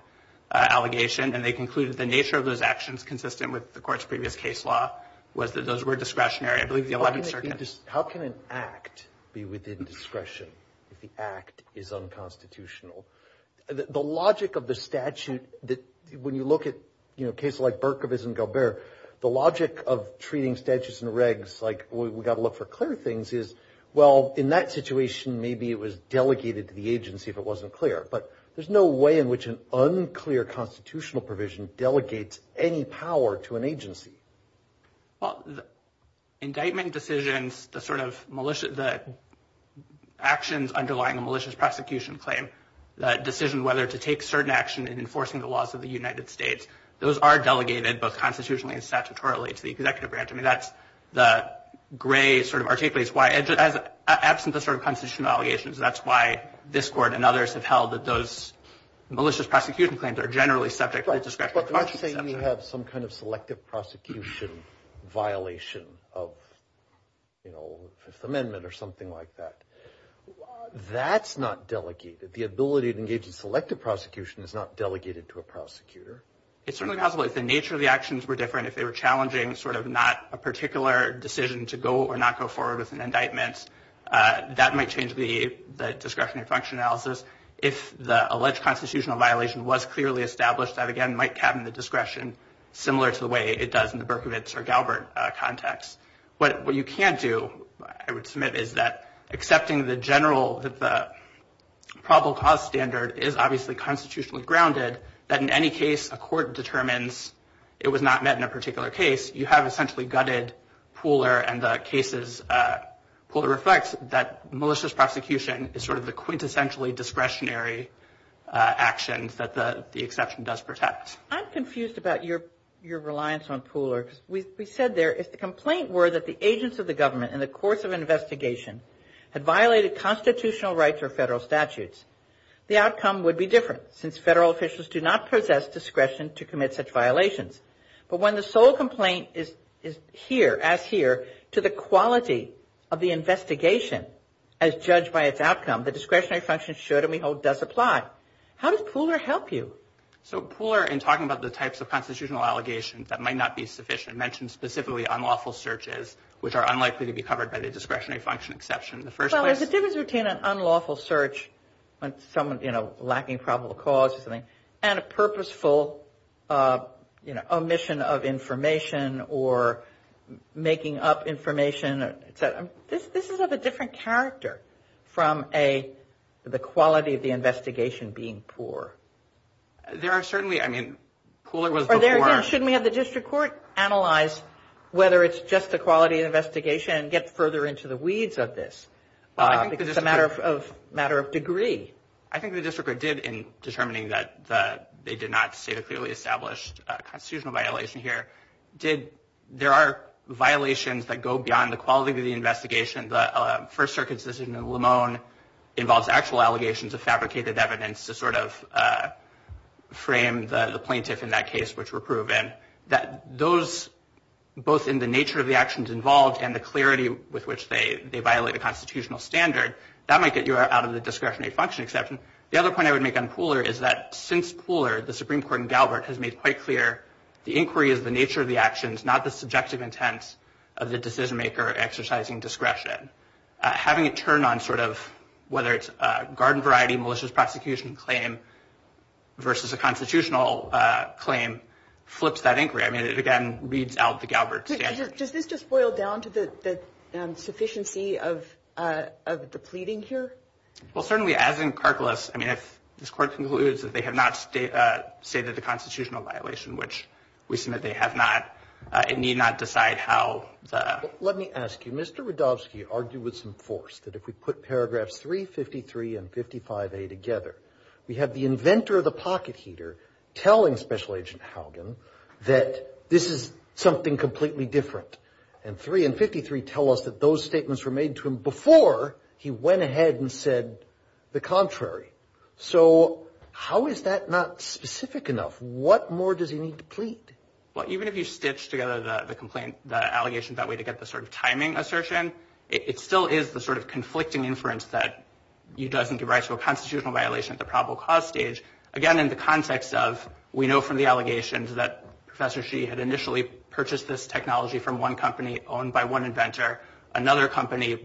allegation, and they concluded the nature of those actions consistent with the Court's previous case law was that those were discretionary, I believe, in the Eleventh Circuit. How can an Act be within discretion if the Act is unconstitutional? The logic of the statute that when you look at, you know, cases like Berkowitz and Galbert, the logic of treating statutes and regs like we've got to look for clear things is, well, in that situation, maybe it was delegated to the agency if it wasn't clear. But there's no way in which an unclear constitutional provision delegates any power to an agency. Well, indictment decisions, the sort of actions underlying a malicious prosecution claim, the decision whether to take certain action in enforcing the laws of the United States, those are delegated both constitutionally and statutorily to the executive branch. I mean, that's the gray sort of articulates why, absent the sort of constitutional allegations, that's why this Court and others have held that those malicious prosecution claims are generally subject to discretion. But let's say you have some kind of selective prosecution violation of, you know, Fifth Amendment or something like that. That's not delegated. The ability to engage in selective prosecution is not delegated to a prosecutor. It's certainly possible if the nature of the actions were different, if they were challenging sort of not a particular decision to go or not go forward with an indictment, that might change the discretionary function analysis. If the alleged constitutional violation was clearly established, that again might cabin the discretion similar to the way it does in the Berkowitz or Galbert context. What you can't do, I would submit, is that accepting the general probable cause standard is obviously constitutionally grounded, that in any case a court determines it was not met in a particular case, you have essentially gutted Pooler and the cases Pooler reflects that malicious prosecution is sort of the quintessentially discretionary actions that the exception does protect. I'm confused about your reliance on Pooler. We said there if the complaint were that the agents of the government in the course of investigation had violated constitutional rights or federal statutes, the outcome would be different since federal officials do not possess discretion to commit such violations. But when the sole complaint is here, as here, to the quality of the investigation as judged by its outcome, the discretionary function should and we hope does apply. How does Pooler help you? So Pooler, in talking about the types of constitutional allegations that might not be sufficient, mentioned specifically unlawful searches which are unlikely to be covered by the discretionary function exception. Well, there's a difference between an unlawful search on someone, you know, lacking probable cause or something, and a purposeful, you know, omission of information or making up information. This is of a different character from the quality of the investigation being poor. There are certainly, I mean, Pooler was before. Or there again, shouldn't we have the district court analyze whether it's just a quality investigation and get further into the weeds of this because it's a matter of degree? I think the district court did in determining that they did not state a clearly established constitutional violation here. There are violations that go beyond the quality of the investigation. The First Circuit's decision in Lamone involves actual allegations of fabricated evidence to sort of frame the plaintiff in that case, which were proven. Those, both in the nature of the actions involved and the clarity with which they violate a constitutional standard, that might get you out of the discretionary function exception. The other point I would make on Pooler is that since Pooler, the Supreme Court in Galbert has made quite clear the inquiry is the nature of the actions, not the subjective intent of the decision maker exercising discretion. Having it turn on sort of whether it's a garden variety malicious prosecution claim versus a constitutional claim flips that inquiry. I mean, it again reads out the Galbert standard. Does this just boil down to the sufficiency of the pleading here? Well, certainly, as in Karklis, I mean, if this court concludes that they have not stated a constitutional violation, which we submit they have not, it need not decide how. Let me ask you, Mr. Radovsky argued with some force that if we put paragraphs 353 and 55A together, we have the inventor of the pocket heater telling Special Agent Haugen that this is something completely different. And 353 tell us that those statements were made to him before he went ahead and said the contrary. So how is that not specific enough? What more does he need to plead? Well, even if you stitch together the complaint, the allegation, that way to get the sort of timing assertion, it still is the sort of conflicting inference that he doesn't do right. So a constitutional violation at the probable cause stage, again, in the context of we know from the allegations that Professor Xi had initially purchased this technology from one company owned by one inventor. Another company,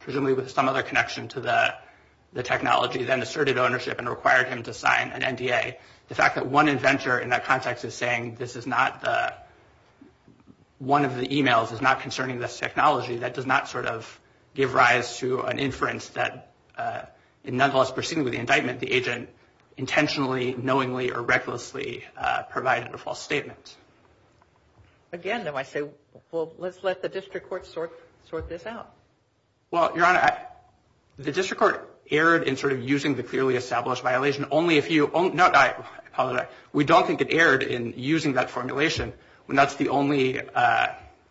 presumably with some other connection to the technology, then asserted ownership and required him to sign an NDA. The fact that one inventor in that context is saying this is not one of the e-mails is not concerning this technology, that does not sort of give rise to an inference that in nonetheless proceeding with the indictment, the agent intentionally, knowingly, or recklessly provided a false statement. Again, though, I say, well, let's let the district court sort this out. Well, Your Honor, the district court erred in sort of using the clearly established violation. No, I apologize. We don't think it erred in using that formulation, when that's the only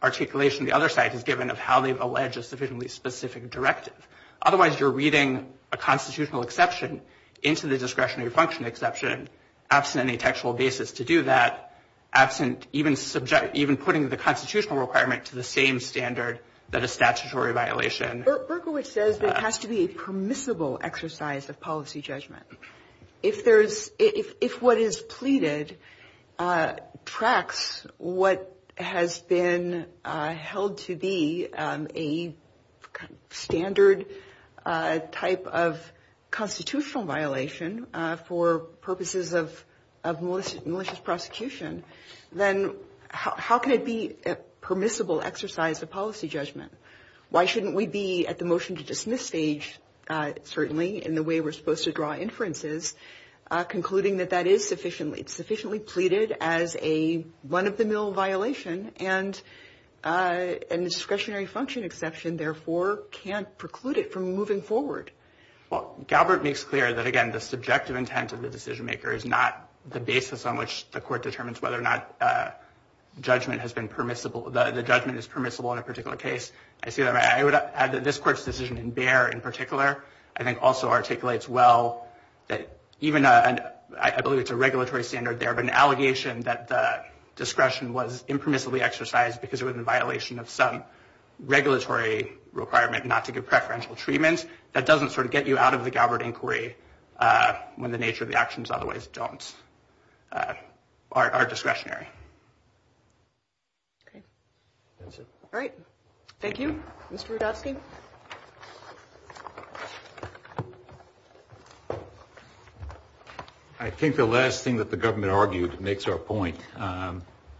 articulation the other side has given of how they've alleged a sufficiently specific directive. Otherwise, you're reading a constitutional exception into the discretionary function exception, absent any textual basis to do that, absent even putting the constitutional requirement to the same standard that a statutory violation. Berkowitz says there has to be a permissible exercise of policy judgment. If what is pleaded tracks what has been held to be a standard type of constitutional violation for purposes of malicious prosecution, then how can it be a permissible exercise of policy judgment? Why shouldn't we be at the motion to dismiss stage, certainly in the way we're supposed to draw inferences, concluding that that is sufficiently pleaded as a one-of-the-mill violation and a discretionary function exception, therefore, can't preclude it from moving forward? Well, Galbert makes clear that, again, the subjective intent of the decision-maker is not the basis on which the court determines whether or not judgment has been permissible. The judgment is permissible in a particular case. I would add that this Court's decision in Bayer, in particular, I think also articulates well that even I believe it's a regulatory standard there, but an allegation that the discretion was impermissibly exercised because it was in violation of some regulatory requirement not to give preferential treatment, that doesn't sort of get you out of the Galbert inquiry when the nature of the actions otherwise don't, are discretionary. All right. Thank you. Mr. Rudofsky. I think the last thing that the government argued makes our point.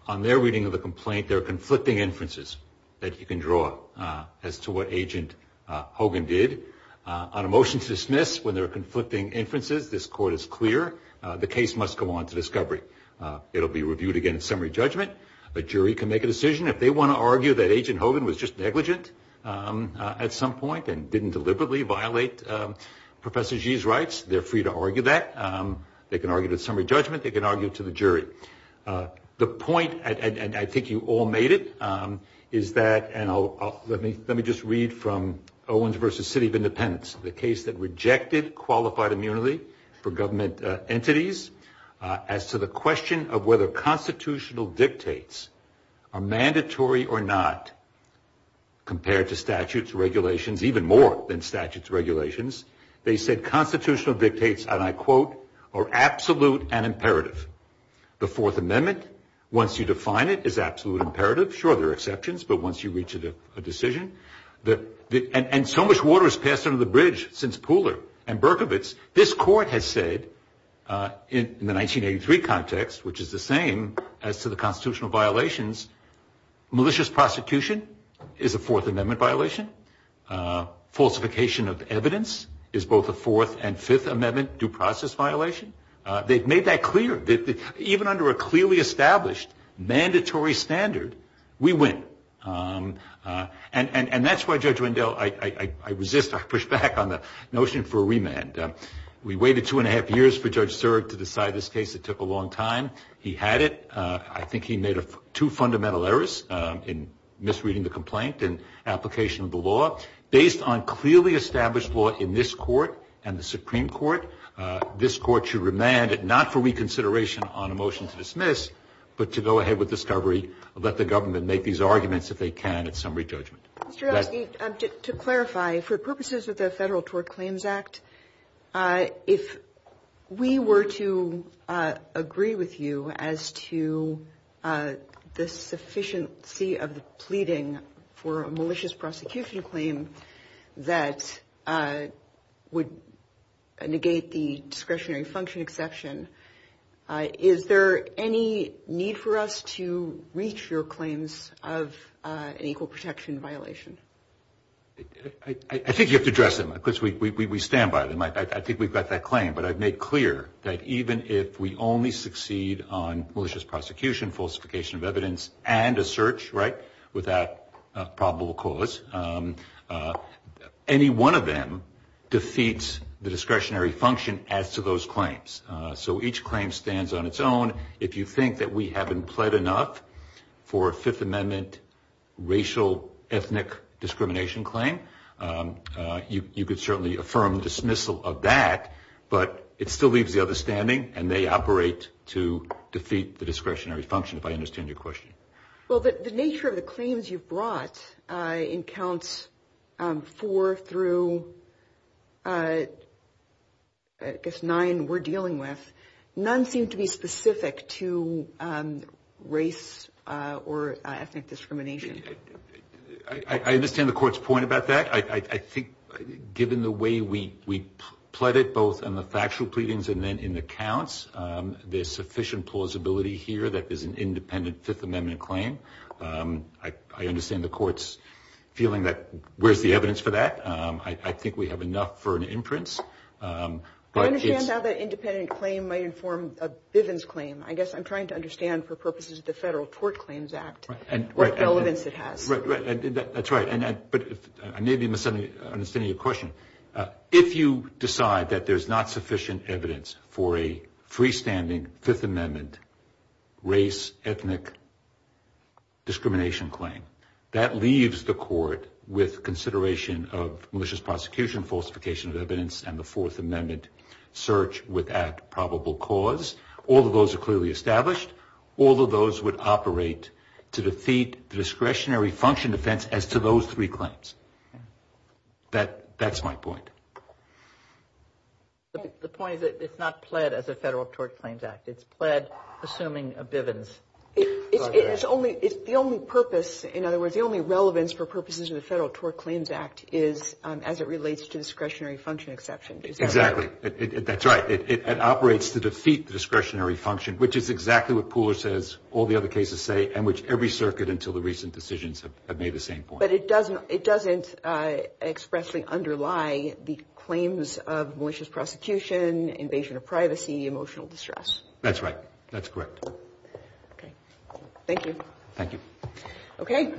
On their reading of the complaint, there are conflicting inferences that you can draw as to what Agent Hogan did. On a motion to dismiss, when there are conflicting inferences, this Court is clear the case must go on to discovery. It will be reviewed again in summary judgment. A jury can make a decision. If they want to argue that Agent Hogan was just negligent at some point and didn't deliberately violate Professor Gee's rights, they're free to argue that. They can argue it in summary judgment. They can argue it to the jury. The point, and I think you all made it, is that, and let me just read from Owens v. City of Independence, the case that rejected qualified immunity for government entities as to the question of whether constitutional dictates are mandatory or not compared to statutes, regulations, even more than statutes, regulations. They said constitutional dictates, and I quote, are absolute and imperative. The Fourth Amendment, once you define it, is absolute imperative. Sure, there are exceptions, but once you reach a decision, and so much water has passed under the bridge since Pooler and Berkovitz. This Court has said in the 1983 context, which is the same as to the constitutional violations, malicious prosecution is a Fourth Amendment violation. Falsification of evidence is both a Fourth and Fifth Amendment due process violation. They've made that clear. Even under a clearly established mandatory standard, we win. And that's why, Judge Wendell, I resist, I push back on the notion for a remand. We waited two and a half years for Judge Serg to decide this case. It took a long time. He had it. I think he made two fundamental errors in misreading the complaint and application of the law. Based on clearly established law in this Court and the Supreme Court, this Court should remand it not for reconsideration on a motion to dismiss, but to go ahead with discovery, let the government make these arguments if they can at summary judgment. To clarify, for purposes of the Federal Tort Claims Act, if we were to agree with you as to the sufficiency of the pleading for a malicious prosecution claim that would negate the discretionary function exception, is there any need for us to reach your claims of an equal protection violation? I think you have to address them, because we stand by them. I think we've got that claim. But I've made clear that even if we only succeed on malicious prosecution, falsification of evidence, and a search, right, without probable cause, any one of them defeats the discretionary function as to those claims. So each claim stands on its own. If you think that we haven't pled enough for a Fifth Amendment racial ethnic discrimination claim, you could certainly affirm dismissal of that, but it still leaves the other standing, and they operate to defeat the discretionary function, if I understand your question. Well, the nature of the claims you've brought in Counts 4 through, I guess, 9 we're dealing with, none seem to be specific to race or ethnic discrimination. I understand the Court's point about that. I think given the way we pled it, both in the factual pleadings and then in the counts, there's sufficient plausibility here that there's an independent Fifth Amendment claim. I understand the Court's feeling that where's the evidence for that. I think we have enough for an imprint. I understand how that independent claim might inform a Bivens claim. I guess I'm trying to understand for purposes of the Federal Tort Claims Act what relevance it has. That's right. But I may be misunderstanding your question. If you decide that there's not sufficient evidence for a freestanding Fifth Amendment race ethnic discrimination claim, that leaves the Court with consideration of malicious prosecution, falsification of evidence, and the Fourth Amendment search without probable cause. All of those are clearly established. All of those would operate to defeat the discretionary function defense as to those three claims. That's my point. The point is that it's not pled as a Federal Tort Claims Act. It's pled assuming a Bivens. It's the only purpose, in other words, the only relevance for purposes of the Federal Tort Claims Act is as it relates to discretionary function exception. Exactly. That's right. It operates to defeat the discretionary function, which is exactly what Pooler says all the other cases say and which every circuit until the recent decisions have made the same point. But it doesn't expressly underlie the claims of malicious prosecution, invasion of privacy, emotional distress. That's right. That's correct. Okay. Thank you. Thank you. Okay.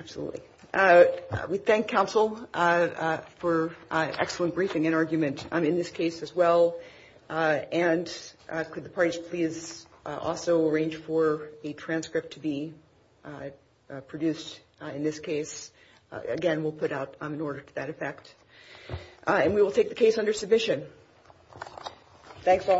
Absolutely. We thank counsel for excellent briefing and argument in this case as well. And could the parties please also arrange for a transcript to be produced in this case? Again, we'll put out an order to that effect. And we will take the case under submission. Thanks all.